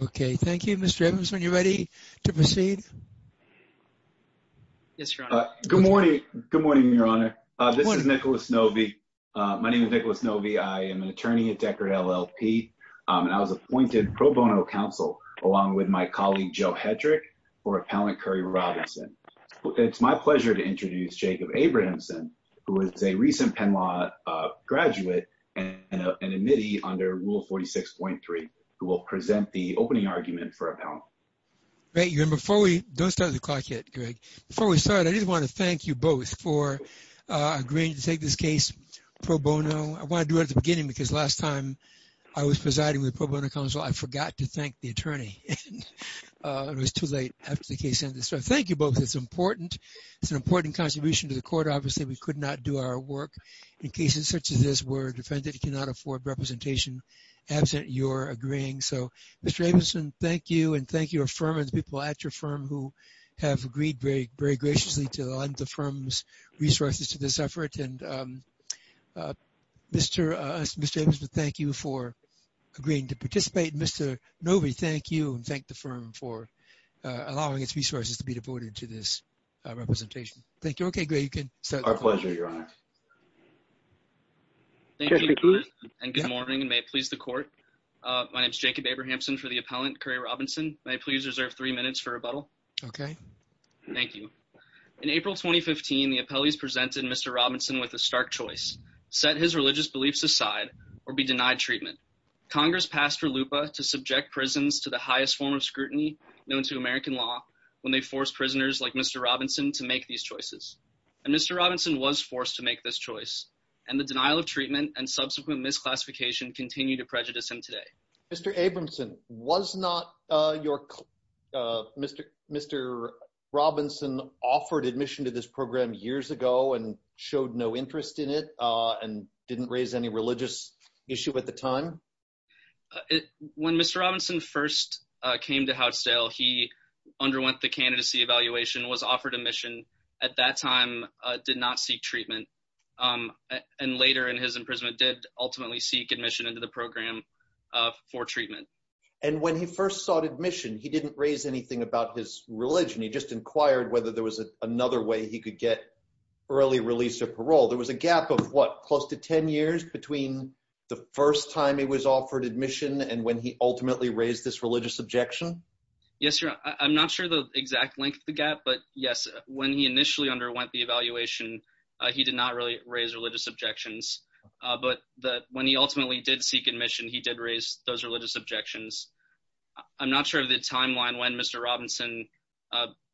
Okay. Thank you, Mr. Evans. When you're ready to proceed. Good morning. Good morning, Your Honor. This is Nicholas Novy. My name is Nicholas Novy. I am an attorney at Deckard LLP, and I was appointed pro bono counsel along with my colleague Joe Hedrick for Appellant Curry Robinson. It's my pleasure to introduce Jacob Abrahamson, who is a recent Penn Law graduate and an admittee under Rule 46.3, who will present the opening argument for Appellant. Great. Before we don't start the clock yet, Greg, before we start, I just want to thank you both for agreeing to take this case pro bono. I want to do it at the beginning because last time I was presiding with pro bono counsel, I forgot to thank the attorney. It was too late after the case ended. So thank you both. It's important. It's an important contribution to the court. Obviously, we could not do our work in cases such as this where a defendant cannot afford representation, absent your agreeing. So, Mr. Abrahamson, thank you and thank your firm and the people at your firm who have agreed very, very graciously to lend the firm's resources to this effort. And Mr. Abrahamson, thank you for agreeing to participate. Mr. Novy, thank you and thank the firm for allowing its resources to be devoted to this representation. Thank you. Okay, Greg, you can start. Our pleasure, Your Honor. Thank you, Your Honor, and good morning, and may it please the court. My name is Jacob Abrahamson for the appellant, Currie Robinson. May I please reserve three minutes for rebuttal? Okay. Thank you. In April 2015, the appellees presented Mr. Robinson with a stark choice, set his religious beliefs aside or be denied treatment. Congress passed for LUPA to subject prisons to the highest form of scrutiny known to American law when they force prisoners like Mr. Robinson to make these choices. And Mr. Robinson was forced to make this choice, and the denial of treatment and subsequent misclassification continue to prejudice him today. Mr. Abrahamson, was not your Mr. Robinson offered admission to this program years ago and showed no interest in it and didn't raise any religious issue at the time? When Mr. Robinson first came to Houtsdale, he underwent the candidacy evaluation, was offered admission, at that time did not seek treatment, and later in his imprisonment did ultimately seek admission into the program for treatment. And when he first sought admission, he didn't raise anything about his religion. He just inquired whether there was another way he could get early release or parole. There was a gap of what, close to 10 years between the first time he was offered admission and when he ultimately raised this religious objection? Yes, Your Honor. I'm not sure the exact length of the gap, but yes, when he initially underwent the evaluation, he did not really raise religious objections. But when he ultimately did seek admission, he did raise those religious objections. I'm not sure of the timeline when Mr. Robinson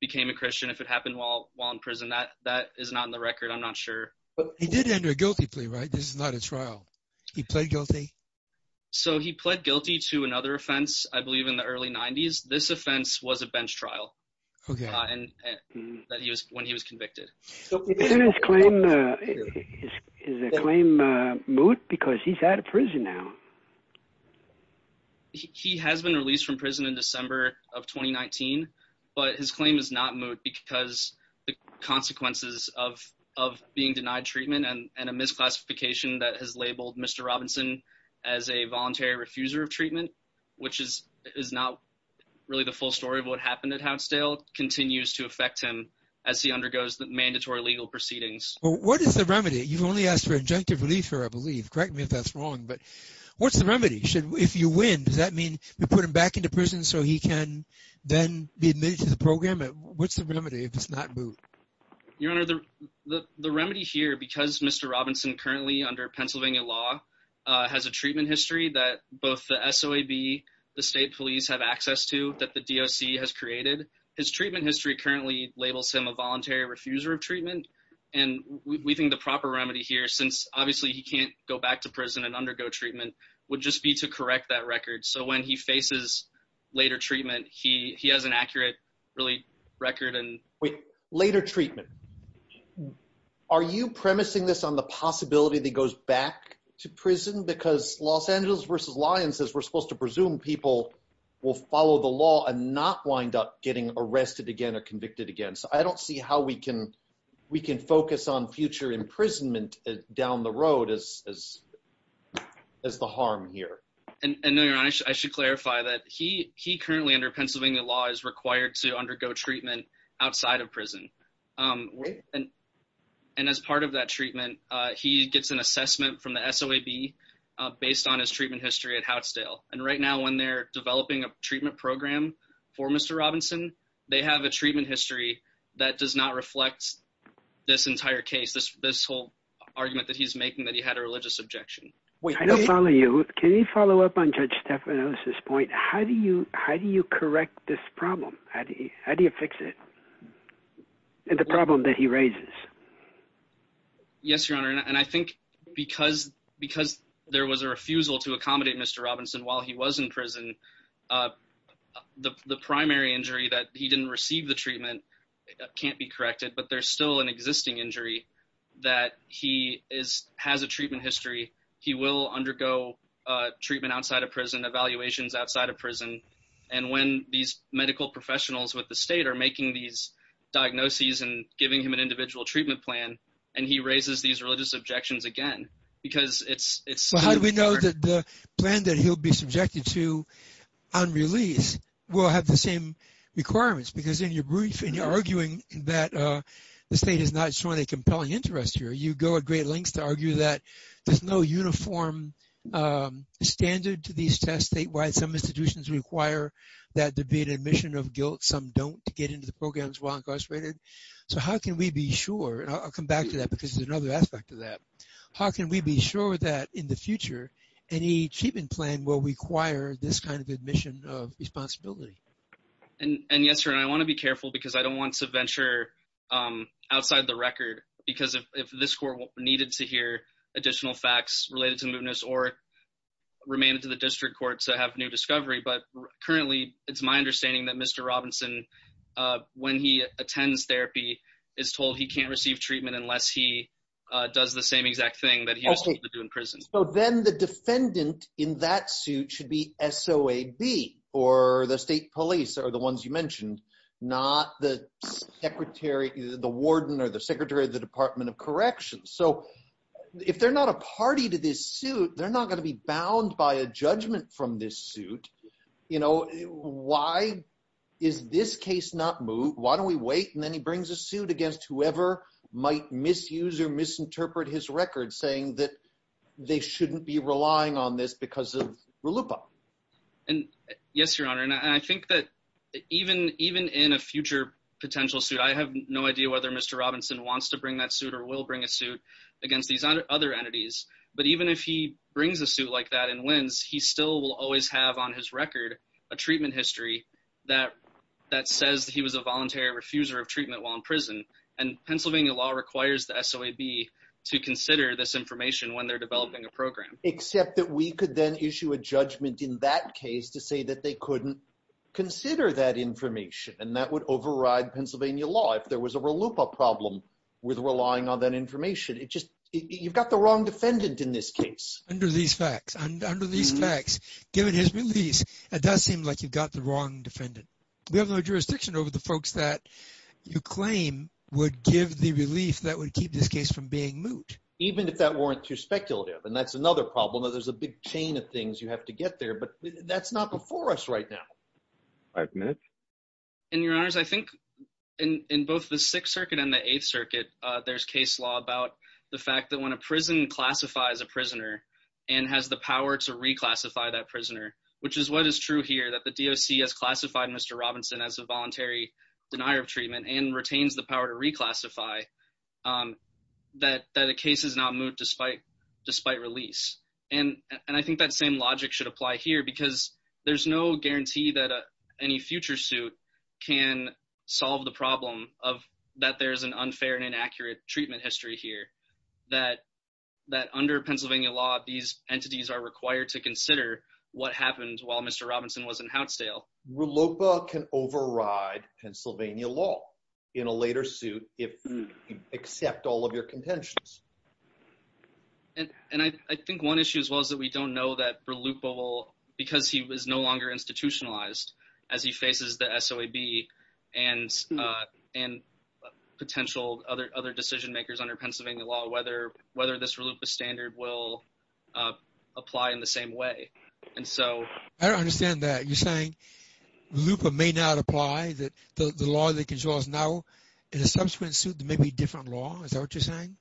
became a Christian, if it happened while in prison. That is not in the record. I'm not sure. He did enter a guilty plea, right? This is not a trial. He pled guilty? So, he pled guilty to another offense, I believe in the early 90s. This offense was a bench trial. Okay. When he was convicted. Is the claim moot? Because he's out of prison now. He has been released from prison in December of 2019, but his claim is not moot because the consequences of being denied treatment and a misclassification that has labeled Mr. Robinson as a voluntary refuser of treatment, which is not really the full story of what happened at Hounsdale, continues to affect him as he undergoes the mandatory legal proceedings. What is the remedy? You've only asked for injunctive relief here, I believe. Correct me if that's wrong, but what's the remedy? If you win, does that mean we put him back into prison so he can then be admitted to the program? What's the remedy if it's not moot? Your Honor, the remedy here, because Mr. Robinson currently under Pennsylvania law, has a treatment history that both the SOAB, the state police have access to, that the DOC has created, his treatment history currently labels him a voluntary refuser of treatment. And we think the proper remedy here, since obviously he can't go back to prison and undergo treatment, would just be to correct that record. So, when he faces later treatment, he has an accurate really record. Wait, later treatment. Are you premising this on the possibility that he goes back to prison? Because Los Angeles vs. Lyons says we're supposed to presume people will follow the law and not wind up getting arrested again or convicted again. So, I don't see how we can focus on future imprisonment down the road as the harm here. No, Your Honor, I should clarify that he currently under Pennsylvania law is required to undergo treatment outside of prison. And as part of that treatment, he gets an assessment from the SOAB based on his treatment history at Houtsdale. And right now, when they're developing a treatment program for Mr. Robinson, they have a treatment history that does not reflect this entire case, this whole argument that he's making that he had a religious objection. Wait, I don't follow you. Can you follow up on Judge Stephanos' point? How do you correct this problem? How do you fix it? And the problem that he raises. Yes, Your Honor, and I think because there was a refusal to accommodate Mr. Robinson while he was in prison, the primary injury that he didn't receive the treatment can't be corrected. But there's still an existing injury that he has a treatment history. He will undergo treatment outside of prison, evaluations outside of prison. And when these medical professionals with the state are making these diagnoses and giving him an individual treatment plan, and he raises these religious objections again, because it's... How do we know that the plan that he'll be subjected to on release will have the same requirements? Because in your brief, and you're arguing that the state is not showing a compelling interest here, you go at great lengths to argue that there's no uniform standard to these tests statewide. Some institutions require that there be an admission of guilt, some don't to get into the programs while incarcerated. So, how can we be sure? I'll come back to that because there's another aspect to that. How can we be sure that in the future, any treatment plan will require this kind of admission of responsibility? And yes, Your Honor, I want to be careful because I don't want to venture outside the record because if this court needed to hear additional facts related to mootness or remain into the district court to have new discovery. But currently, it's my understanding that Mr. Robinson, when he attends therapy, is told he can't receive treatment unless he does the same exact thing that he was told to do in prison. So then the defendant in that suit should be SOAB or the state police or the ones you mentioned, not the secretary, the warden or the secretary of the Department of Corrections. So, if they're not a party to this suit, they're not going to be bound by a judgment from this suit. You know, why is this case not moot? Why don't we wait and then he brings a suit against whoever might misuse or misinterpret his record saying that they shouldn't be relying on this because of in a future potential suit? I have no idea whether Mr. Robinson wants to bring that suit or will bring a suit against these other entities. But even if he brings a suit like that and wins, he still will always have on his record a treatment history that says he was a voluntary refuser of treatment while in prison. And Pennsylvania law requires the SOAB to consider this information when they're developing a program. Except that we could then issue a judgment in that and that would override Pennsylvania law if there was a loophole problem with relying on that information. You've got the wrong defendant in this case. Under these facts, given his release, it does seem like you've got the wrong defendant. We have no jurisdiction over the folks that you claim would give the relief that would keep this case from being moot. Even if that weren't too speculative. And that's another problem that there's a big chain of things you have to get there, but that's not before us right now. Five minutes. And your honors, I think in both the Sixth Circuit and the Eighth Circuit, there's case law about the fact that when a prison classifies a prisoner and has the power to reclassify that prisoner, which is what is true here, that the DOC has classified Mr. Robinson as a voluntary denier of treatment and retains the power to reclassify that a case is not moot despite release. And I think that same logic should apply here because there's no guarantee that any future suit can solve the problem of that there's an unfair and inaccurate treatment history here. That under Pennsylvania law, these entities are required to consider what happened while Mr. Robinson was in Houtsdale. Rallopa can override Pennsylvania law in a later suit if you accept all of your contentions. And I think one issue as well is that we don't know that Rallopa will, because he was no longer institutionalized as he faces the SOAB and potential other decision makers under Pennsylvania law, whether this Rallopa standard will apply in the same way. And so... I don't understand that. You're saying Rallopa may not apply, that the law that controls now in a subsequent suit, there may be a different law. Is that what you're saying?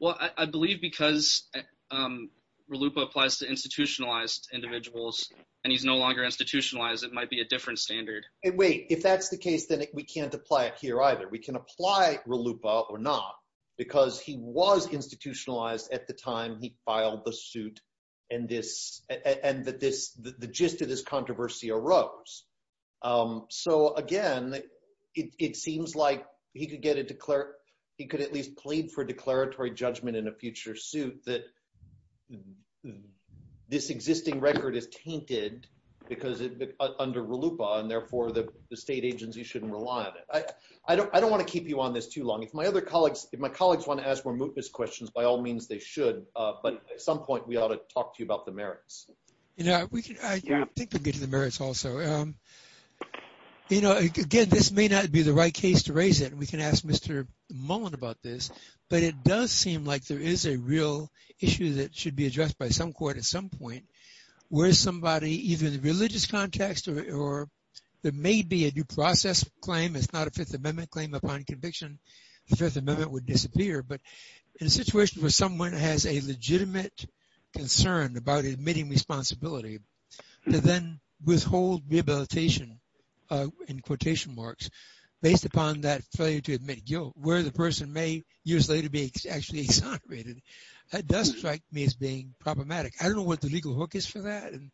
Well, I believe because Rallopa applies to institutionalized individuals and he's no longer institutionalized, it might be a different standard. Wait, if that's the case, then we can't apply it here either. We can apply Rallopa or not, because he was institutionalized at the time he filed the suit and the gist of this controversy arose. So again, it seems like he could at least plead for declaratory judgment in a future suit that this existing record is tainted because under Rallopa and therefore the state agency shouldn't rely on it. I don't want to keep you on this too long. If my colleagues want to ask more mootness questions, by all means they should, but at some point we ought to talk to you about the merits. I think we're getting to the merits also. Again, this may not be the right case to raise it and we can ask Mr. Mullin about this, but it does seem like there is a real issue that should be addressed by some court at some point, where somebody, either in the religious context or there may be a due process claim, it's not a Fifth Amendment claim, upon conviction, the Fifth Amendment would disappear. But in a situation where someone has a legitimate concern about admitting responsibility, to then withhold rehabilitation in quotation marks based upon that failure to admit guilt, where the person may years later be actually exonerated, that does strike me as being problematic. I don't know what the legal hook is for that and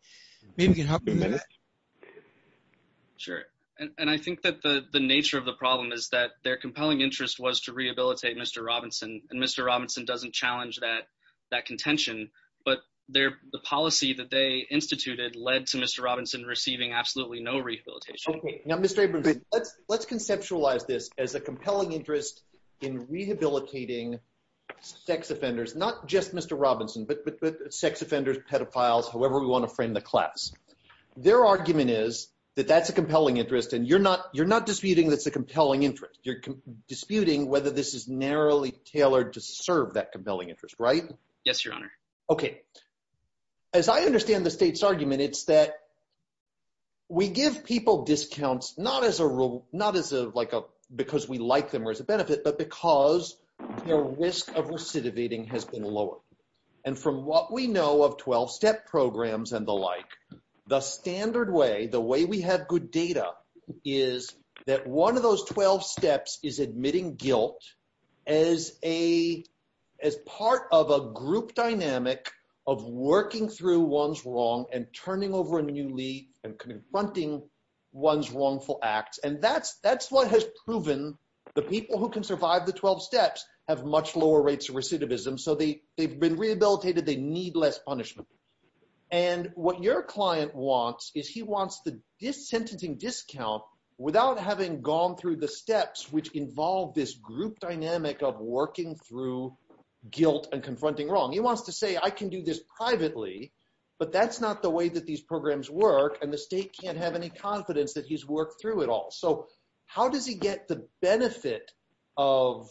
maybe you can help me with that. Sure. And I think that the nature of the problem is that their compelling interest was to rehabilitate Mr. Robinson and Mr. Robinson doesn't challenge that contention, but the policy that they led to Mr. Robinson receiving absolutely no rehabilitation. Okay. Now, Mr. Abrams, let's conceptualize this as a compelling interest in rehabilitating sex offenders, not just Mr. Robinson, but sex offenders, pedophiles, however we want to frame the class. Their argument is that that's a compelling interest and you're not disputing that's a compelling interest. You're disputing whether this is narrowly tailored to serve that compelling interest, right? Yes, Your Honor. Okay. As I understand the state's argument, it's that we give people discounts, not as a rule, not as a, like a, because we like them or as a benefit, but because their risk of recidivating has been lower. And from what we know of 12-step programs and the like, the standard way, the way we have good data is that one of those 12 steps is admitting guilt as a, as part of a group dynamic of working through one's wrong and turning over a new leaf and confronting one's wrongful acts. And that's, that's what has proven the people who can survive the 12 steps have much lower rates of recidivism. So they, they've been rehabilitated. They need less punishment. And what your client wants is he wants the sentencing discount without having gone through the steps, which involve this group dynamic of working through guilt and confronting wrong. He wants to say, I can do this privately, but that's not the way that these programs work. And the state can't have any confidence that he's worked through it all. So how does he get the benefit of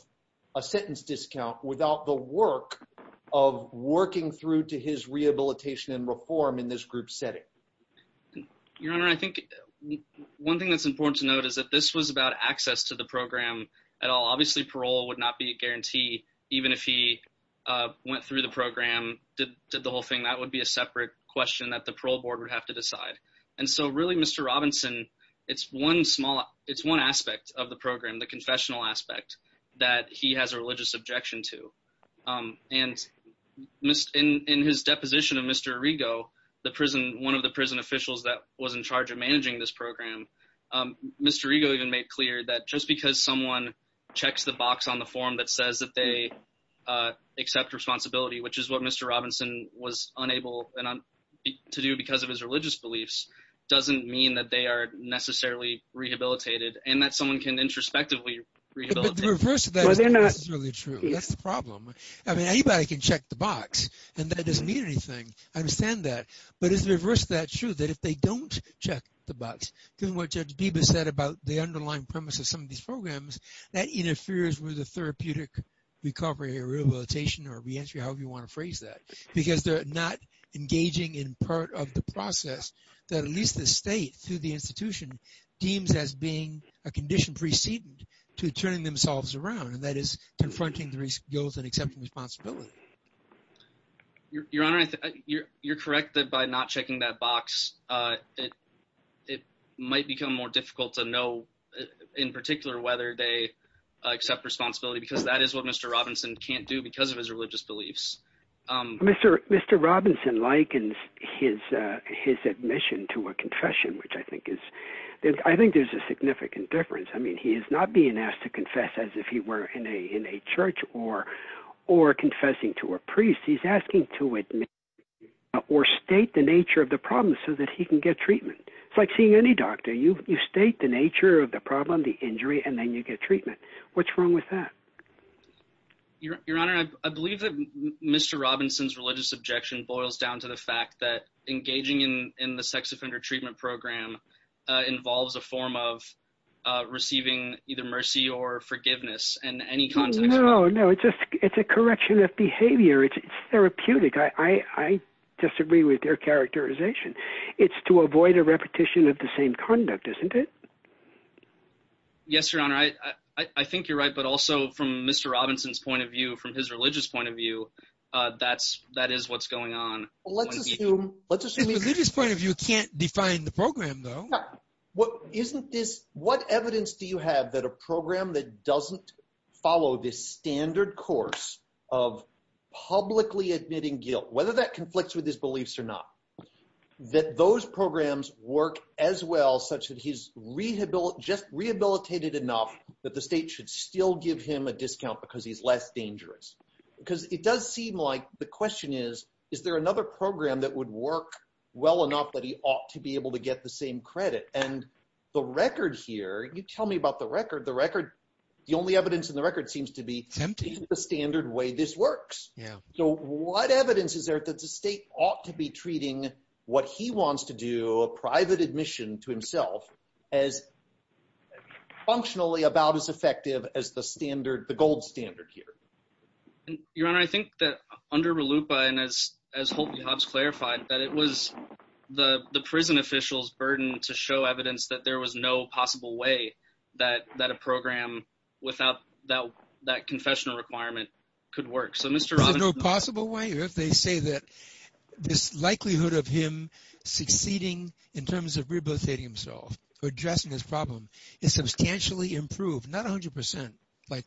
a sentence discount without the work of working through to his rehabilitation and reform in this group setting? Your Honor, I think one thing that's about access to the program at all, obviously parole would not be a guarantee. Even if he went through the program, did the whole thing, that would be a separate question that the parole board would have to decide. And so really Mr. Robinson, it's one small, it's one aspect of the program, the confessional aspect that he has a religious objection to. And in his deposition of Mr. Arrigo, the prison, one of the prison officials that was in charge of managing this program, Mr. Arrigo even made clear that just because someone checks the box on the form that says that they accept responsibility, which is what Mr. Robinson was unable to do because of his religious beliefs, doesn't mean that they are necessarily rehabilitated and that someone can introspectively rehabilitate. But the reverse of that is not necessarily true. That's the problem. I mean, anybody can check the box and that doesn't mean anything. I understand that. But is the reverse of that true? That if they don't check the box, given what Judge Biba said about the underlying premise of some of these programs, that interferes with the therapeutic recovery or rehabilitation or reentry, however you want to phrase that, because they're not engaging in part of the process that at least the state through the institution deems as being a condition preceding to turning themselves around and that is confronting the guilt and responsibility. Your Honor, you're correct that by not checking that box, it might become more difficult to know in particular whether they accept responsibility because that is what Mr. Robinson can't do because of his religious beliefs. Mr. Robinson likens his admission to a confession, which I think is, I think there's a significant difference. I mean, he is not being asked to confess as if he were in a church or confessing to a priest. He's asking to admit or state the nature of the problem so that he can get treatment. It's like seeing any doctor. You state the nature of the problem, the injury, and then you get treatment. What's wrong with that? Your Honor, I believe that Mr. Robinson's religious objection boils down to the fact that engaging in the sex offender treatment program involves a form of receiving either mercy or forgiveness in any context. No, no. It's a correction of behavior. It's therapeutic. I disagree with your characterization. It's to avoid a repetition of the same conduct, isn't it? Yes, Your Honor. I think you're right, but also from Mr. Robinson's point of view, from his religious point of view, that is what's going on. Let's assume, let's assume. His religious point of view can't define the program though. What isn't this, what evidence do you have that a program that doesn't follow this standard course of publicly admitting guilt, whether that conflicts with his beliefs or not, that those programs work as well such that he's rehabilitated enough that the state should still give him a discount because he's less dangerous? Because it does seem like the question is, is there another program that would work well enough that he ought to be able to get the same credit? And the record here, you tell me about the record, the record, the only evidence in the record seems to be the standard way this works. Yeah. So what evidence is there that the state ought to be treating what he wants to do, a private admission to himself as functionally about as effective as the standard, the gold standard here? Your Honor, I think that under LUPA and as Holtley-Hobbs clarified, that it was the prison officials' burden to show evidence that there was no possible way that a program without that confessional requirement could work. So Mr. Robinson- No possible way? If they say that this likelihood of him succeeding in terms of rehabilitating himself or addressing his problem is substantially improved, not 100% but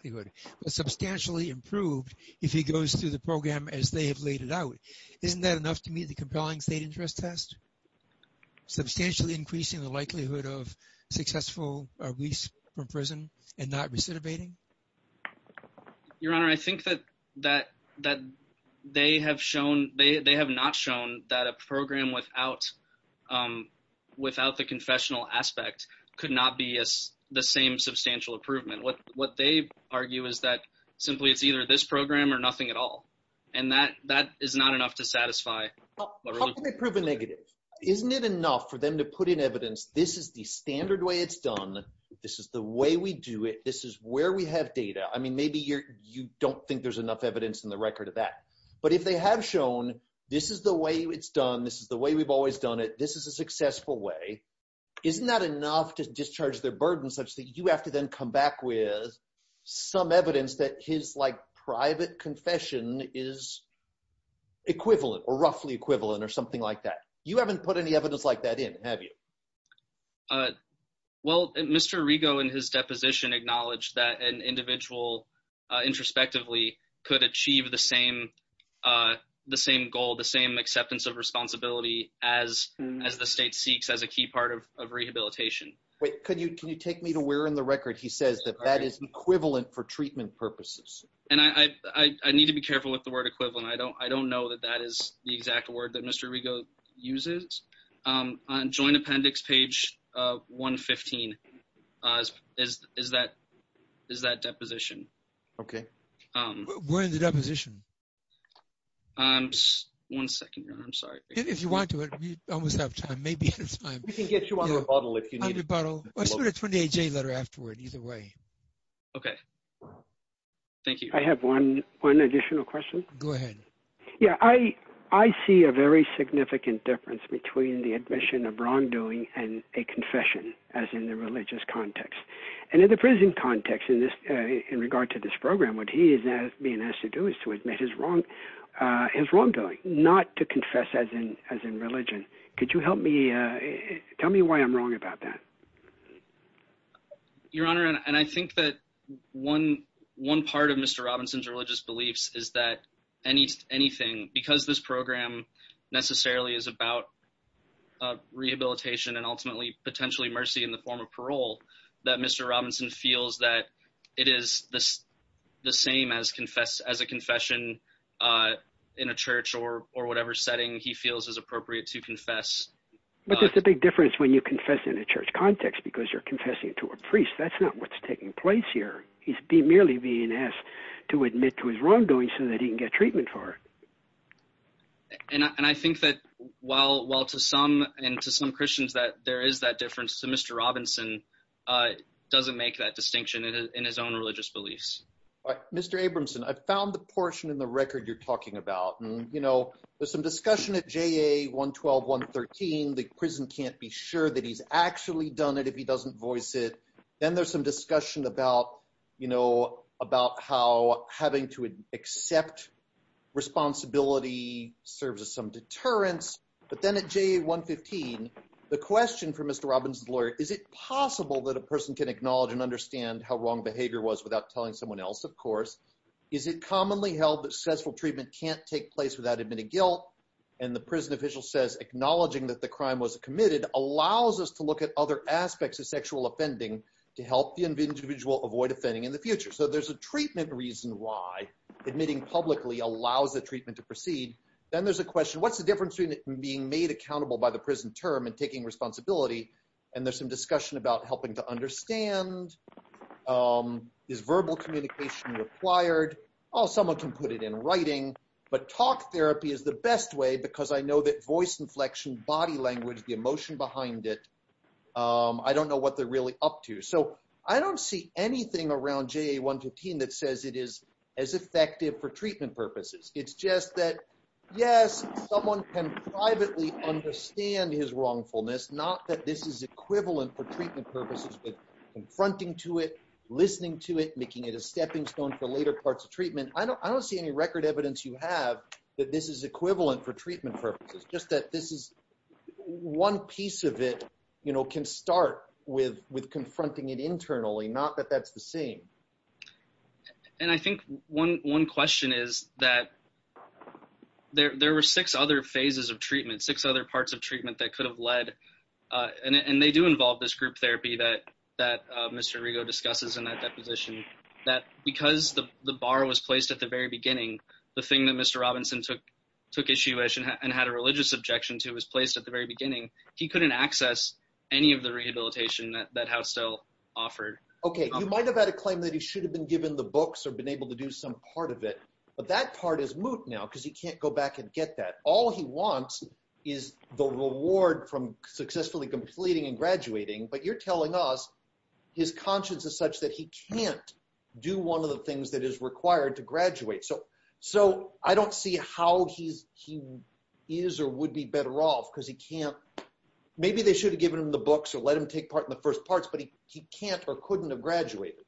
substantially improved if he goes through the program as they have laid it out, isn't that enough to meet the compelling state interest test? Substantially increasing the likelihood of successful release from prison and not recidivating? Your Honor, I think that they have shown, they have not shown that a program without the confessional aspect could not be the same substantial improvement. What they argue is that simply it's either this program or nothing at all. And that is not enough to satisfy- How can they prove a negative? Isn't it enough for them to put in evidence, this is the standard way it's done, this is the way we do it, this is where we have data. I mean, maybe you don't think there's enough evidence in the record of that. But if they have shown this is the way it's done, this is the way we've always done it, this is a successful way, isn't that enough to discharge their burden such that you have to then come back with some evidence that his private confession is equivalent or roughly equivalent or something like that? You haven't put any evidence like that in, have you? Well, Mr. Rigo in his deposition acknowledged that an individual introspectively could achieve the same goal, the same acceptance of responsibility as the state seeks as a key part of rehabilitation. Wait, can you take me to where in the record he says that that is equivalent for treatment purposes? And I need to be careful with the word equivalent. I don't know that that is the exact word that Mr. Rigo uses. On joint appendix page 115 is that deposition. Okay. We're in the deposition. One second, John, I'm sorry. If you want to, we almost have time, maybe. We can get you a bottle if you need it. A 28-J letter afterward, either way. Okay. Thank you. I have one additional question. Go ahead. Yeah, I see a very significant difference between the admission of wrongdoing and a confession as in the religious context. And in the prison context in regard to this program, what he is being asked to do is to admit his wrongdoing, not to confess as in religion. Could you tell me why I'm wrong about that? Your Honor, and I think that one part of Mr. Robinson's religious beliefs is that anything, because this program necessarily is about rehabilitation and ultimately potentially mercy in the form of parole, that Mr. Robinson feels that it is the same as a confession in a church or whatever setting he feels is appropriate to confess. But that's the big difference when you confess in a church context, because you're confessing to a priest. That's not what's taking place here. He's merely being asked to admit to his wrongdoing so that he can get treatment for it. And I think that while to some, and to some Mr. Robinson doesn't make that distinction in his own religious beliefs. Mr. Abramson, I found the portion in the record you're talking about, and there's some discussion at JA 112, 113, the prison can't be sure that he's actually done it if he doesn't voice it. Then there's some discussion about how having to accept responsibility serves as some deterrence. But then at JA 115, the question for Mr. Robinson's lawyer, is it possible that a person can acknowledge and understand how wrong behavior was without telling someone else? Of course. Is it commonly held that successful treatment can't take place without admitting guilt? And the prison official says, acknowledging that the crime was committed allows us to look at other aspects of sexual offending to help the individual avoid offending in the future. So there's a treatment reason why admitting publicly allows the treatment to proceed. Then there's a question, what's the difference between being made accountable by the prison term and taking responsibility? And there's some discussion about helping to understand is verbal communication required? Oh, someone can put it in writing, but talk therapy is the best way because I know that voice inflection, body language, the emotion behind it, I don't know what they're really up to. So I don't see anything around JA 115 that says it is as effective for treatment purposes. It's just that, yes, someone can privately understand his wrongfulness, not that this is equivalent for treatment purposes, but confronting to it, listening to it, making it a stepping stone for later parts of treatment. I don't see any record evidence you have that this is equivalent for treatment purposes, just that this is one piece of it can start with confronting it internally, not that that's the case. And I think one question is that there were six other phases of treatment, six other parts of treatment that could have led, and they do involve this group therapy that Mr. Rigo discusses in that deposition, that because the bar was placed at the very beginning, the thing that Mr. Robinson took issue with and had a religious objection to was placed at the very beginning, he couldn't access any of the rehabilitation that Housetail offered. Okay, you might have had a claim that he should have been given the books or been able to do some part of it, but that part is moot now because he can't go back and get that. All he wants is the reward from successfully completing and graduating, but you're telling us his conscience is such that he can't do one of the things that is required to graduate. So I don't see how he is or would be better off because he can't, maybe they should have given him the books or let him take part in the first parts, but he can't or couldn't have graduated.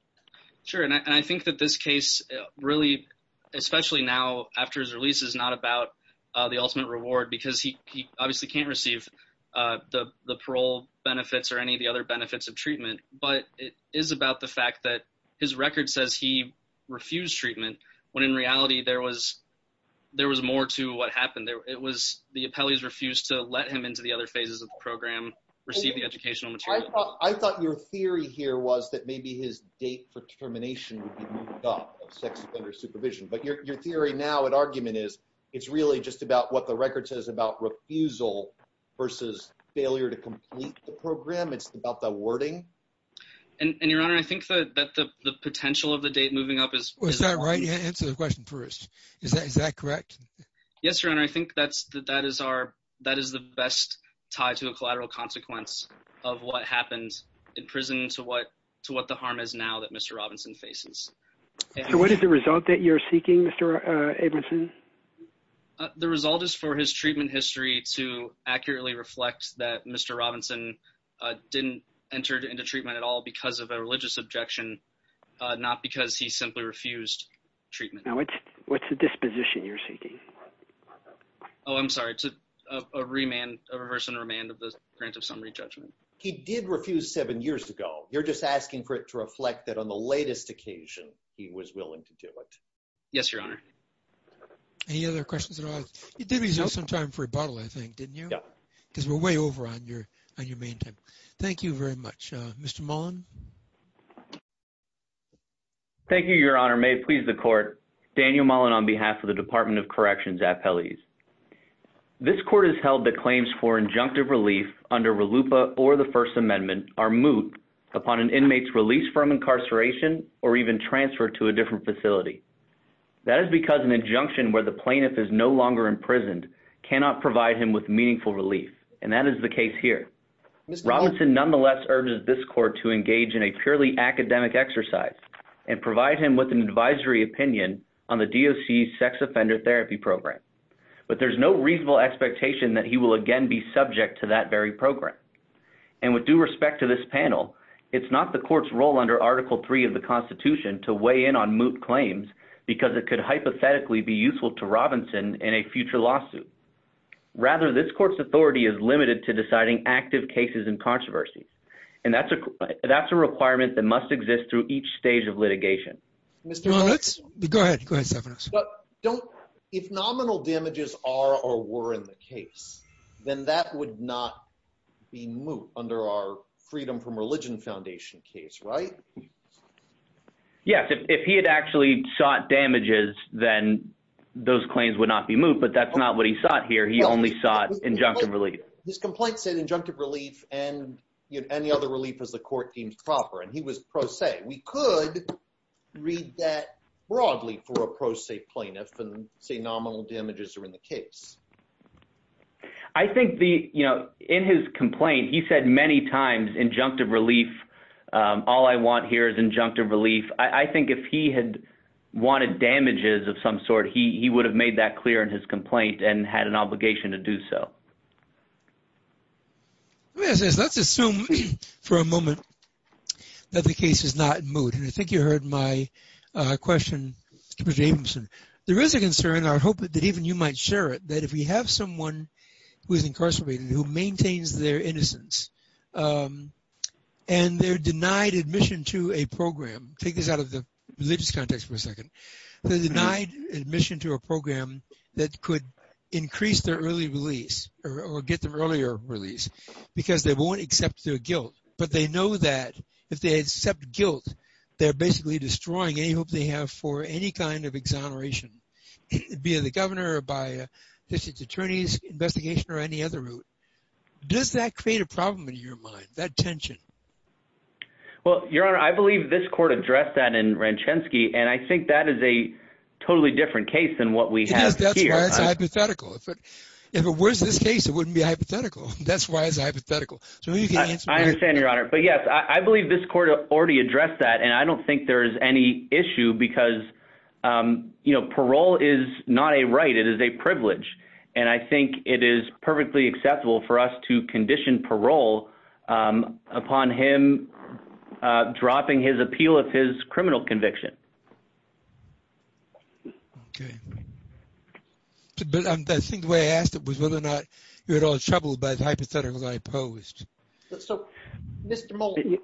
Sure, and I think that this case really, especially now after his release, is not about the ultimate reward because he obviously can't receive the parole benefits or any of the other benefits of treatment, but it is about the fact that his record says he refused treatment when in reality there was more to what happened. The appellees refused to let him into the other phases of the program, receive the educational material. I thought your theory here was that maybe his date for termination would be moved up of sex offender supervision, but your theory now at argument is, it's really just about what the record says about refusal versus failure to complete the program. It's about the wording. And your honor, I think that the potential of the date moving up is... Is that right? Yeah, answer the question first. Is that correct? Yes, your honor. I think that is our... That is the best tie to a collateral consequence of what happened in prison to what the harm is now that Mr. Robinson faces. So what is the result that you're seeking, Mr. Abramson? The result is for his treatment history to accurately reflect that Mr. Robinson didn't enter into treatment at all because of a religious objection, not because he simply refused treatment. Now, what's the disposition you're seeking? Oh, I'm sorry. It's a remand, a reverse and remand of the grant of summary judgment. He did refuse seven years ago. You're just asking for it to reflect that on the latest occasion he was willing to do it. Yes, your honor. Any other questions at all? You did reserve some time for rebuttal, I think, didn't you? Yeah. Because we're way over on your main time. Thank you very much. Mr. Mullen. Thank you, your honor. May it please the court. Daniel Mullen on behalf of the Department of Corrections Appellees. This court has held that claims for injunctive relief under RLUIPA or the First Amendment are moot upon an inmate's release from incarceration or even transfer to a different facility. That is because an injunction where the plaintiff is no longer imprisoned cannot provide him with meaningful relief. And that is the case here. Robinson nonetheless urges this court to engage in a purely academic exercise and provide him with an advisory opinion on the DOC sex offender therapy program. But there's no reasonable expectation that he will again be subject to that very program. And with due respect to this panel, it's not the court's role under Article 3 of the Constitution to weigh in on moot claims because it could hypothetically be useful to rather this court's authority is limited to deciding active cases and controversies. And that's a that's a requirement that must exist through each stage of litigation. Mr. Mullen, let's go ahead. But don't if nominal damages are or were in the case, then that would not be moot under our Freedom from Religion Foundation case, right? Yes, if he had actually shot damages, then those claims would not be moot. But that's not what he sought here. He only sought injunctive relief. His complaint said injunctive relief and any other relief as the court deems proper. And he was pro se. We could read that broadly for a pro se plaintiff and say nominal damages are in the case. I think the you know, in his complaint, he said many times injunctive relief. All I want here is injunctive relief. I think if he had wanted damages of some sort, he would have made that clear in his complaint and had an obligation to do so. Let's assume for a moment that the case is not moot. And I think you heard my question, Mr. Abramson. There is a concern, I hope that even you might share it, that if we have someone who is incarcerated who maintains their innocence, and they're denied admission to a program that could increase their early release or get the earlier release, because they won't accept their guilt, but they know that if they accept guilt, they're basically destroying any hope they have for any kind of exoneration, be it the governor or by a district attorney's investigation or any other route. Does that create a problem in your mind, that tension? Well, Your Honor, I believe this court addressed that in Ranchenski. And I think that is a totally different case than what we have here. That's why it's hypothetical. If it was this case, it wouldn't be hypothetical. That's why it's hypothetical. So I understand, Your Honor. But yes, I believe this court already addressed that. And I don't think there's any issue because, you know, parole is not a right, it is a privilege. And I think it is perfectly acceptable for us to condition parole upon him dropping his appeal of his criminal conviction. Okay. But I think the way I asked it was whether or not you're at all troubled by the hypothetical that I posed. So, Mr. Mullen,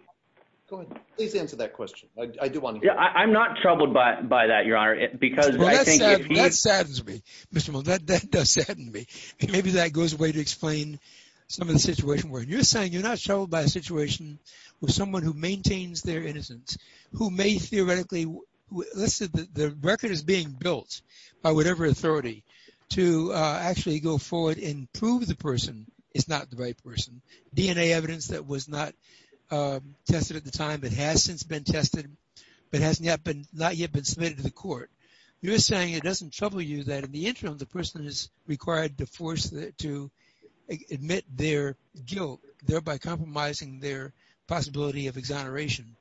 please answer that question. I do want to hear it. Yeah, I'm not troubled by that, Your Honor, because I think... Well, that saddens me, Mr. Mullen. That does sadden me. Maybe that goes away to explain some of the situation where you're saying you're not troubled by a situation with someone who maintains their innocence, who may theoretically... Let's say that the record is being built by whatever authority to actually go forward and prove the person is not the right person. DNA evidence that was not tested at the time, but has since been tested, but has not yet been submitted to the court. You're saying it doesn't trouble you that in the interim, the person is required to admit their guilt, thereby compromising their possibility of exoneration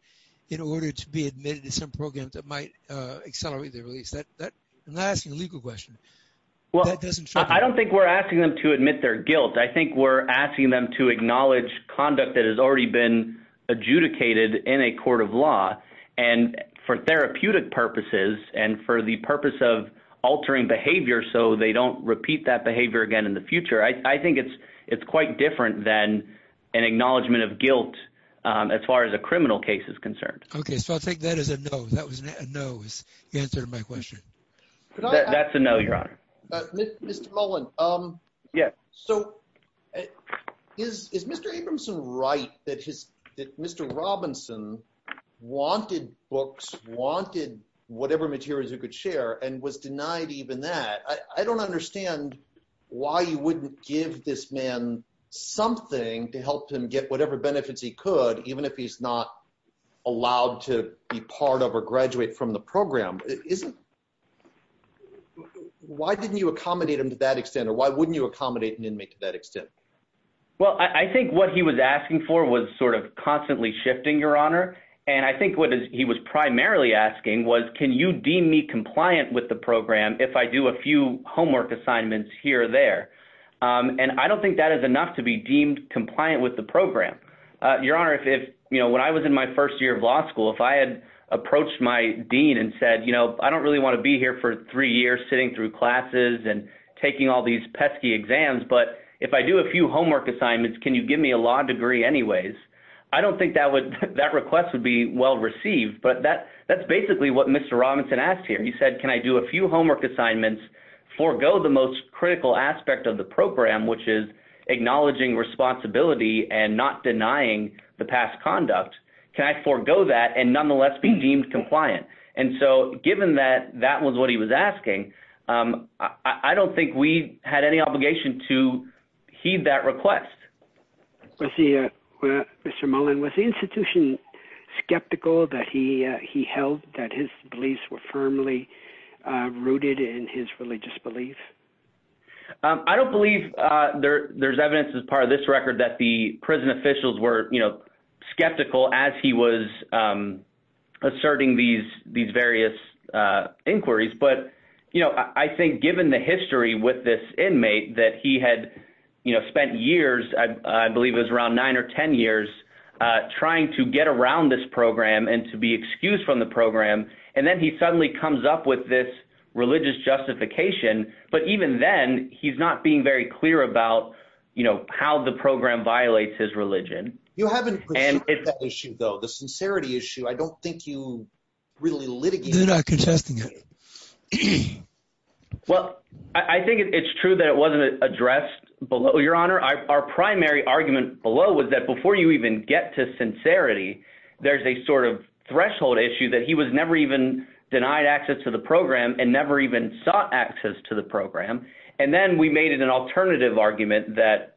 in order to be admitted to some program that might accelerate their release. I'm not asking a legal question. That doesn't trouble me. I don't think we're asking them to admit their guilt. I think we're asking them to acknowledge conduct that has already been adjudicated in a court of law. And for therapeutic purposes, and for the purpose of altering behavior so they don't repeat that behavior again in the future, I think it's quite different than an acknowledgment of guilt as far as a criminal case is concerned. Okay. So I'll take that as a no. That was a no, is the answer to my question. That's a no, Your Honor. Mr. Mullen. Yes. So is Mr. Abramson right that Mr. Robinson wanted books, wanted whatever materials he could share, and was denied even that? I don't understand why you wouldn't give this man something to help him get whatever benefits he could, even if he's not allowed to be part of or graduate from the program. Why didn't you accommodate him to that extent? Or why wouldn't you accommodate an inmate to that extent? Well, I think what he was asking for was sort of constantly shifting, Your Honor. And I think what he was primarily asking was, can you deem me compliant with the program if I do a few homework assignments here or there? And I don't think that is enough to be deemed compliant with the program. Your Honor, when I was in my first year of law school, if I had approached my dean and said, you know, I don't really want to be here for three years sitting through classes and taking all these pesky exams, but if I do a few homework assignments, can you give me a law degree anyways? I don't think that request would be well received. But that's basically what Mr. Robinson asked here. He said, can I do a few homework assignments, forgo the most critical aspect of the program, which is acknowledging responsibility and not denying the past conduct? Can I forego that and nonetheless be deemed compliant? And so, given that that was what he was asking, I don't think we had any obligation to heed that request. Was he, Mr. Mullen, was the institution skeptical that he held that his beliefs were firmly rooted in his religious belief? I don't believe there's evidence as part of this record that the prison officials were, skeptical as he was asserting these various inquiries. But I think given the history with this inmate that he had spent years, I believe it was around nine or 10 years, trying to get around this program and to be excused from the program. And then he suddenly comes up with this religious justification. But even then, he's not being very clear about how the program violates his religion. You haven't pursued that issue, though. The sincerity issue, I don't think you really litigated it. They're not contesting it. Well, I think it's true that it wasn't addressed below, Your Honor. Our primary argument below was that before you even get to sincerity, there's a sort of threshold issue that he was never even denied access to the program and never even sought access to the program. And then we made an alternative argument that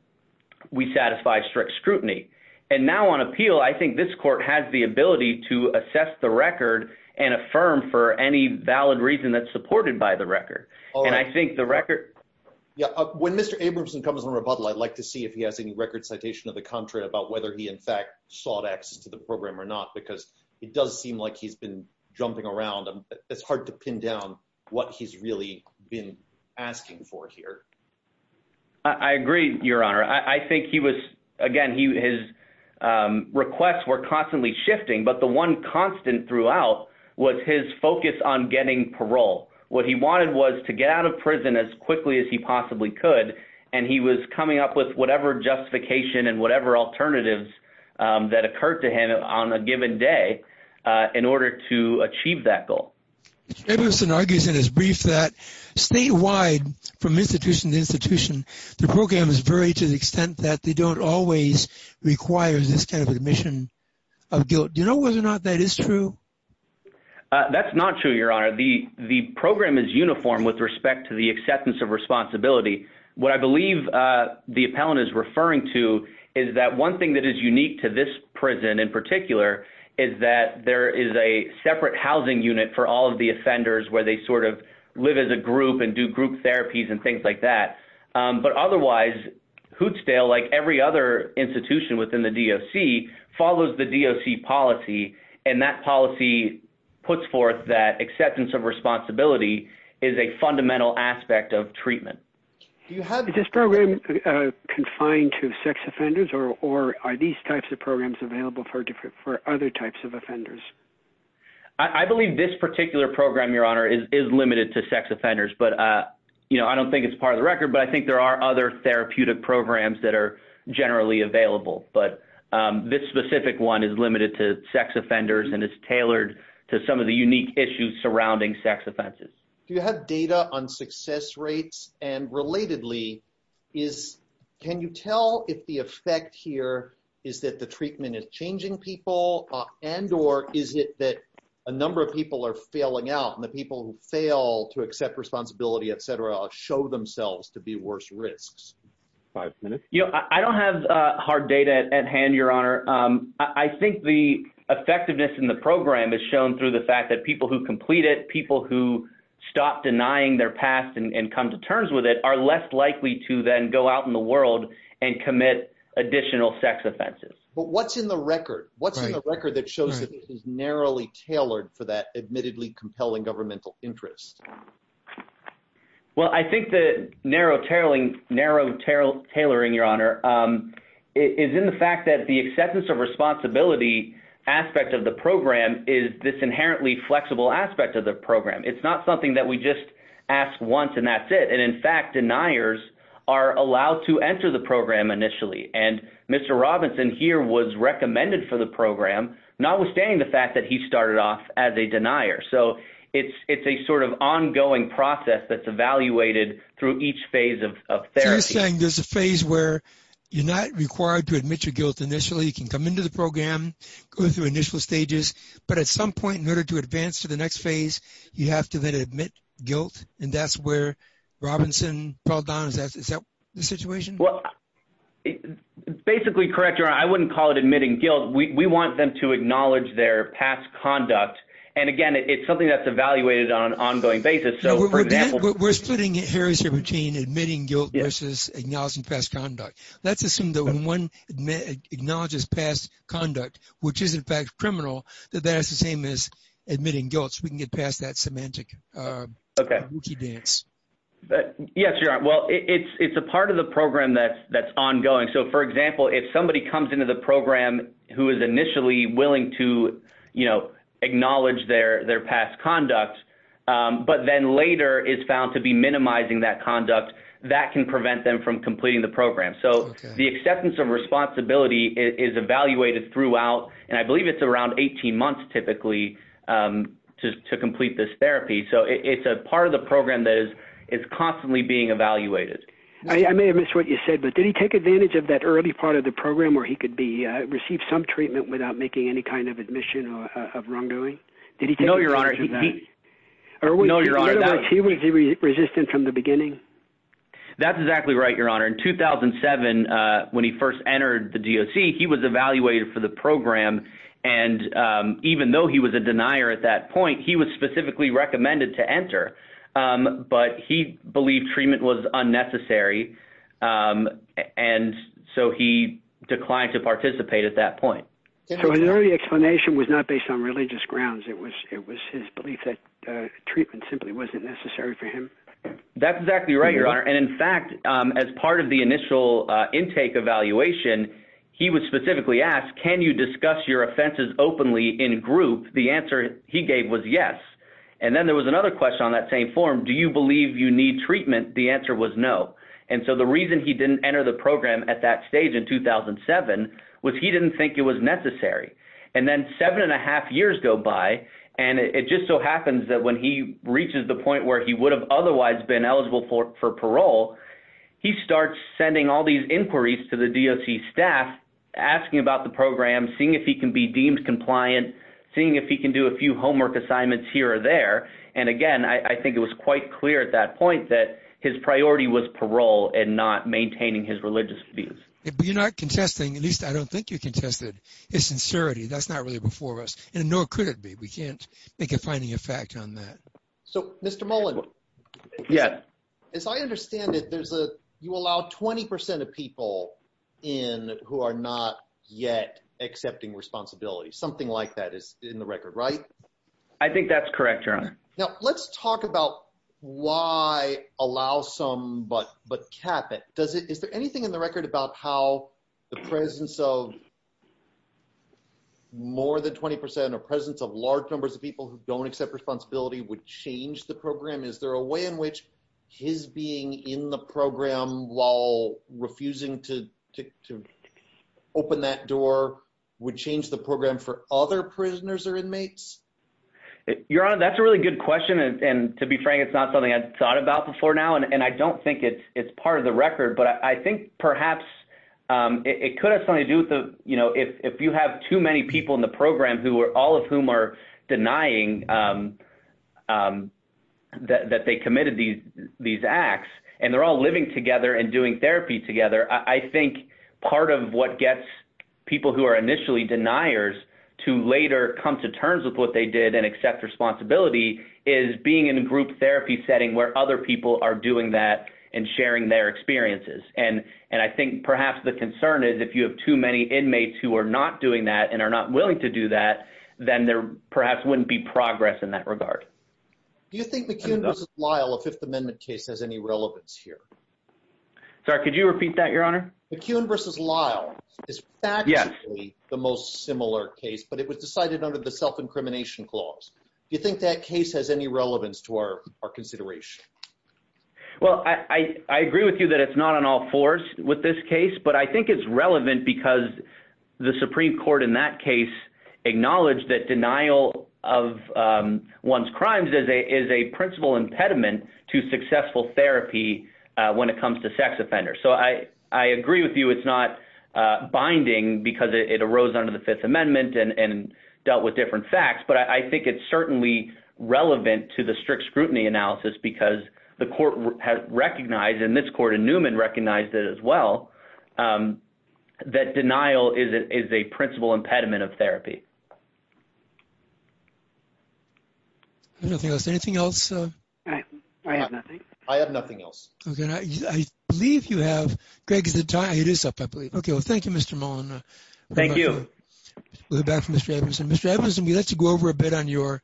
we satisfy strict scrutiny. And now on appeal, I think this court has the ability to assess the record and affirm for any valid reason that's supported by the record. And I think the record... Yeah. When Mr. Abramson comes on rebuttal, I'd like to see if he has any record citation of the contrary about whether he in fact sought access to the program or not, because it does seem like he's been jumping around. It's hard to pin down what he's really been asking for here. I agree, Your Honor. I think he was, again, his requests were constantly shifting, but the one constant throughout was his focus on getting parole. What he wanted was to get out of prison as quickly as he possibly could. And he was coming up with whatever justification and whatever alternatives that occurred to him on a given day in order to achieve that goal. Mr. Abramson argues in his brief that statewide from institution to institution, the program is very to the extent that they don't always require this kind of admission of guilt. Do you know whether or not that is true? That's not true, Your Honor. The program is uniform with respect to the acceptance of responsibility. What I believe the appellant is referring to is that one thing that is unique to this prison in particular is that there is a separate housing unit for all of the offenders where they live as a group and do group therapies and things like that. But otherwise, Hootsdale, like every other institution within the DOC, follows the DOC policy, and that policy puts forth that acceptance of responsibility is a fundamental aspect of treatment. Is this program confined to sex offenders, or are these types of programs available for other types of offenders? I believe this particular program, Your Honor, is limited to sex offenders. I don't think it's part of the record, but I think there are other therapeutic programs that are generally available. But this specific one is limited to sex offenders and is tailored to some of the unique issues surrounding sex offenses. Do you have data on success rates? And relatedly, can you tell if the effect here is that the treatment is changing people, and or is it that a number of people are failing out, and the people who fail to accept responsibility, et cetera, show themselves to be worse risks? Five minutes. You know, I don't have hard data at hand, Your Honor. I think the effectiveness in the program is shown through the fact that people who complete it, people who stop denying their past and come to terms with it, are less likely to then go out in the world and commit additional sex offenses. But what's in the record? What's in the record that shows that this is narrowly tailored for that admittedly compelling governmental interest? Well, I think the narrow tailoring, Your Honor, is in the fact that the acceptance of this inherently flexible aspect of the program, it's not something that we just ask once and that's it. And in fact, deniers are allowed to enter the program initially. And Mr. Robinson here was recommended for the program, notwithstanding the fact that he started off as a denier. So it's a sort of ongoing process that's evaluated through each phase of therapy. So you're saying there's a phase where you're not required to admit your guilt initially, you can come into the program, go through initial stages. But at some point in order to advance to the next phase, you have to then admit guilt. And that's where Robinson fell down. Is that the situation? Well, basically, correct, Your Honor, I wouldn't call it admitting guilt. We want them to acknowledge their past conduct. And again, it's something that's evaluated on an ongoing basis. So for example- We're splitting it, Harry, between admitting guilt versus acknowledging past conduct. Let's assume that when one acknowledges past conduct, which is in fact criminal, that that's the same as admitting guilt. So we can get past that semantic dance. Yes, Your Honor. Well, it's a part of the program that's ongoing. So for example, if somebody comes into the program who is initially willing to, you know, acknowledge their past conduct, but then later is found to be minimizing that conduct, that can prevent them from completing the program. So the acceptance of responsibility is evaluated throughout. And I believe it's around 18 months, typically, to complete this therapy. So it's a part of the program that is constantly being evaluated. I may have missed what you said, but did he take advantage of that early part of the program where he could receive some treatment without making any kind of admission of wrongdoing? Did he take advantage of that? No, Your Honor. No, Your Honor. In other words, he was resistant from the beginning? That's exactly right, Your Honor. In 2007, when he first entered the DOC, he was evaluated for the program. And even though he was a denier at that point, he was specifically recommended to enter. But he believed treatment was unnecessary. And so he declined to participate at that point. So his early explanation was not based on religious grounds. It was his belief that treatment simply wasn't necessary for him? That's exactly right, Your Honor. And in fact, as part of the initial intake evaluation, he was specifically asked, can you discuss your offenses openly in group? The answer he gave was yes. And then there was another question on that same form. Do you believe you need treatment? The answer was no. And so the reason he didn't enter the program at that stage in 2007 was he didn't think it was necessary. And then seven and a half years go by. And it just so happens that when he reaches the point where he would have otherwise been eligible for parole, he starts sending all these inquiries to the DOC staff asking about the program, seeing if he can be deemed compliant, seeing if he can do a few homework assignments here or there. And again, I think it was quite clear at that point that his priority was parole and not maintaining his religious views. But you're not contesting, at least I don't think you contested, his sincerity. That's not really before us. And nor could it be. We can't make a finding of fact on that. So, Mr. Mullen. Yes. As I understand it, you allow 20% of people in who are not yet accepting responsibility. Something like that is in the record, right? I think that's correct, Your Honor. Now, let's talk about why allow some but cap it. Is there anything in the record about how the presence of more than 20% or presence of large numbers of people who don't accept responsibility would change the program? Is there a way in which his being in the program while refusing to open that door would change the program for other prisoners or inmates? Your Honor, that's a really good question. And to be frank, it's not something I thought about before now. And I don't think it's part of the record. But I think perhaps it could have something to do with the, you know, if you have too many people in the program who are all of whom are denying that they committed these acts and they're all living together and doing therapy together, I think part of what gets people who are initially deniers to later come to terms with what they did and accept responsibility is being in a group therapy setting where other people are doing that and sharing their experiences. And I think perhaps the concern is if you have too many inmates who are not doing that and are not willing to do that, then there perhaps wouldn't be progress in that regard. Do you think McKeown v. Lyle, a Fifth Amendment case, has any relevance here? Sorry, could you repeat that, Your Honor? McKeown v. Lyle is factually the most similar case, but it was decided under the self-incrimination clause. Do you think that case has any relevance to our consideration? Well, I agree with you that it's not an all fours with this case, but I think it's in that case acknowledged that denial of one's crimes is a principal impediment to successful therapy when it comes to sex offenders. So I agree with you it's not binding because it arose under the Fifth Amendment and dealt with different facts, but I think it's certainly relevant to the strict scrutiny analysis because the court recognized, and this court in Newman recognized it as well, that denial is a principal impediment of therapy. Anything else? I have nothing. I have nothing else. Okay, I believe you have. Greg, is it time? It is up, I believe. Okay, well, thank you, Mr. Mullin. Thank you. We'll go back to Mr. Edmondson. Mr. Edmondson, we'd like to go over a bit on your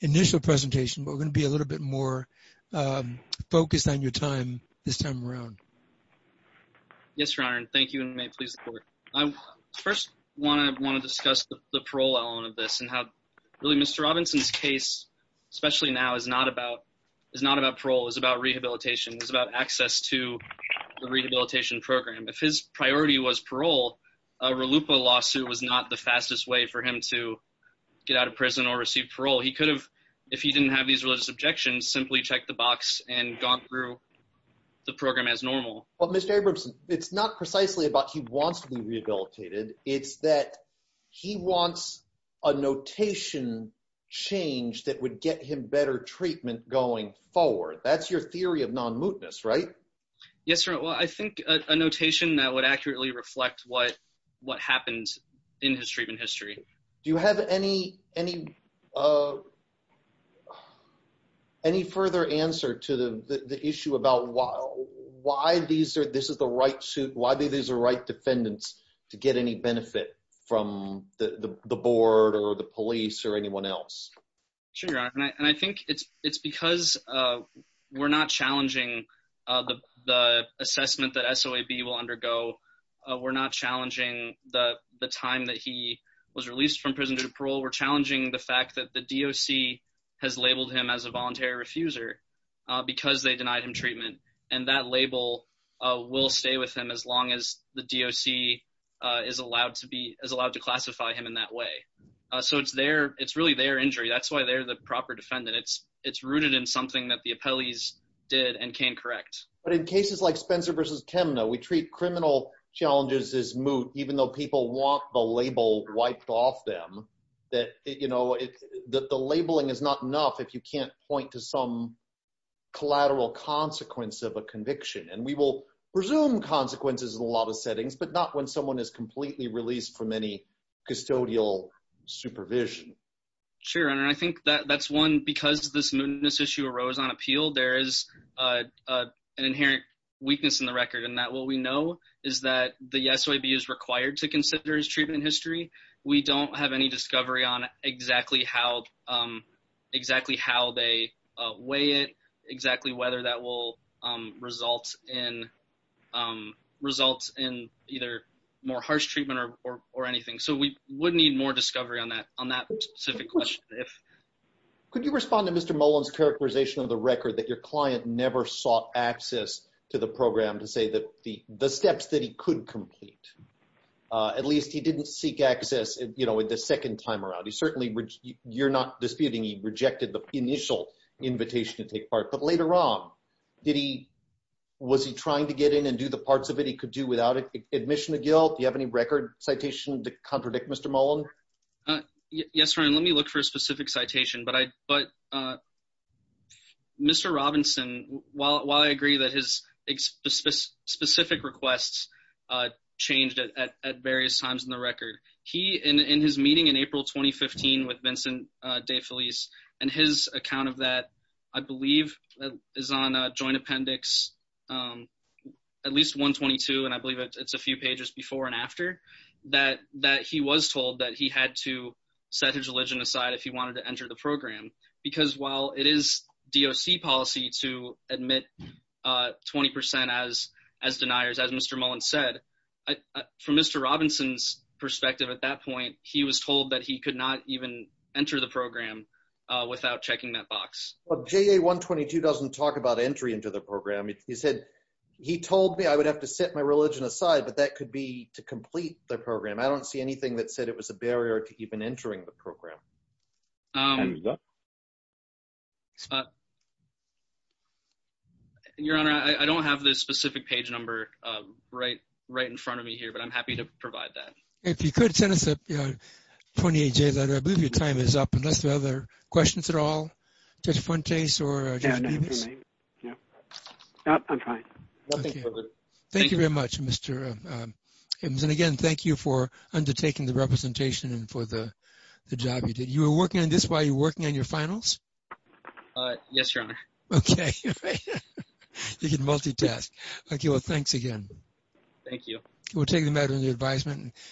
initial presentation, but we're going to be a little bit more focused on your time this time around. Yes, Your Honor. Thank you, and may it please the court. I first want to discuss the parole element of this and how really Mr. Robinson's case, especially now, is not about parole. It's about rehabilitation. It's about access to the rehabilitation program. If his priority was parole, a RLUIPA lawsuit was not the fastest way for him to get out of prison or receive parole. He could have, if he didn't have these religious objections, simply checked the box and gone through the program as normal. Mr. Edmondson, it's not precisely about he wants to be rehabilitated. It's that he wants a notation change that would get him better treatment going forward. That's your theory of non-mootness, right? Yes, Your Honor. Well, I think a notation that would accurately reflect what happened in his treatment history. Do you have any further answer to the issue about why these are the right defendants to get any benefit from the board or the police or anyone else? Sure, Your Honor, and I think it's because we're not challenging the assessment that SOAB will undergo. We're not challenging the time that he was released from prison due to parole. We're challenging the fact that the DOC has labeled him as a voluntary refuser because they denied him treatment, and that label will stay with him as long as the DOC is allowed to classify him in that way. So it's really their injury. That's why they're the proper defendant. It's rooted in something that the appellees did and can correct. But in cases like Spencer v. Kemna, we treat criminal challenges as moot, even though people want the label wiped off them, that the labeling is not enough if you can't point to some collateral consequence of a conviction. And we will presume consequences in a lot of settings, but not when someone is completely released from any custodial supervision. Sure, Your Honor. I think that's one. Because this mootness issue arose on appeal, there is an inherent weakness in the record in that what we know is that the SOAB is required to consider his treatment history. We don't have any discovery on exactly how they weigh it, exactly whether that will result in either more harsh treatment or anything. So we would need more discovery on that specific question. Could you respond to Mr. Mullen's characterization of the record that your client never sought access to the program to say the steps that he could complete? At least he didn't seek access the second time around. Certainly, you're not disputing he rejected the initial invitation to take part. But later on, was he trying to get in and do the parts of it he could do without admission of guilt? Do you have any record citation to contradict Mr. Mullen? Yes, Your Honor. Let me look for a specific citation. But Mr. Robinson, while I agree that his specific requests changed at various times in the record, he, in his meeting in April 2015 with Vincent DeFelice, and his account of that, I believe, is on a joint appendix, at least 122, and I believe it's a few pages before and after, that he was told that he had to set his religion aside if he wanted to enter the program. Because while it is DOC policy to admit 20% as deniers, as Mr. Mullen said, from Mr. Robinson's perspective at that point, he was told that he could not even enter the program without checking that box. JA-122 doesn't talk about entry into the program. He said, he told me I would have to set my religion aside, but that could be to complete the program. I don't see anything that said it was a barrier to even entering the program. Your Honor, I don't have the specific page number right in front of me here, but I'm happy to provide that. If you could send us a 28-J letter. I believe your time is up. Are there other questions at all, Judge Fuentes or Judge Davis? No, I'm fine. Thank you very much, Mr. Hibbs. And again, thank you for undertaking the representation and for the job you did. You were working on this while you were working on your finals? Yes, Your Honor. Okay. You can multitask. Okay, well, thanks again. Thank you. We'll take the matter under advisement.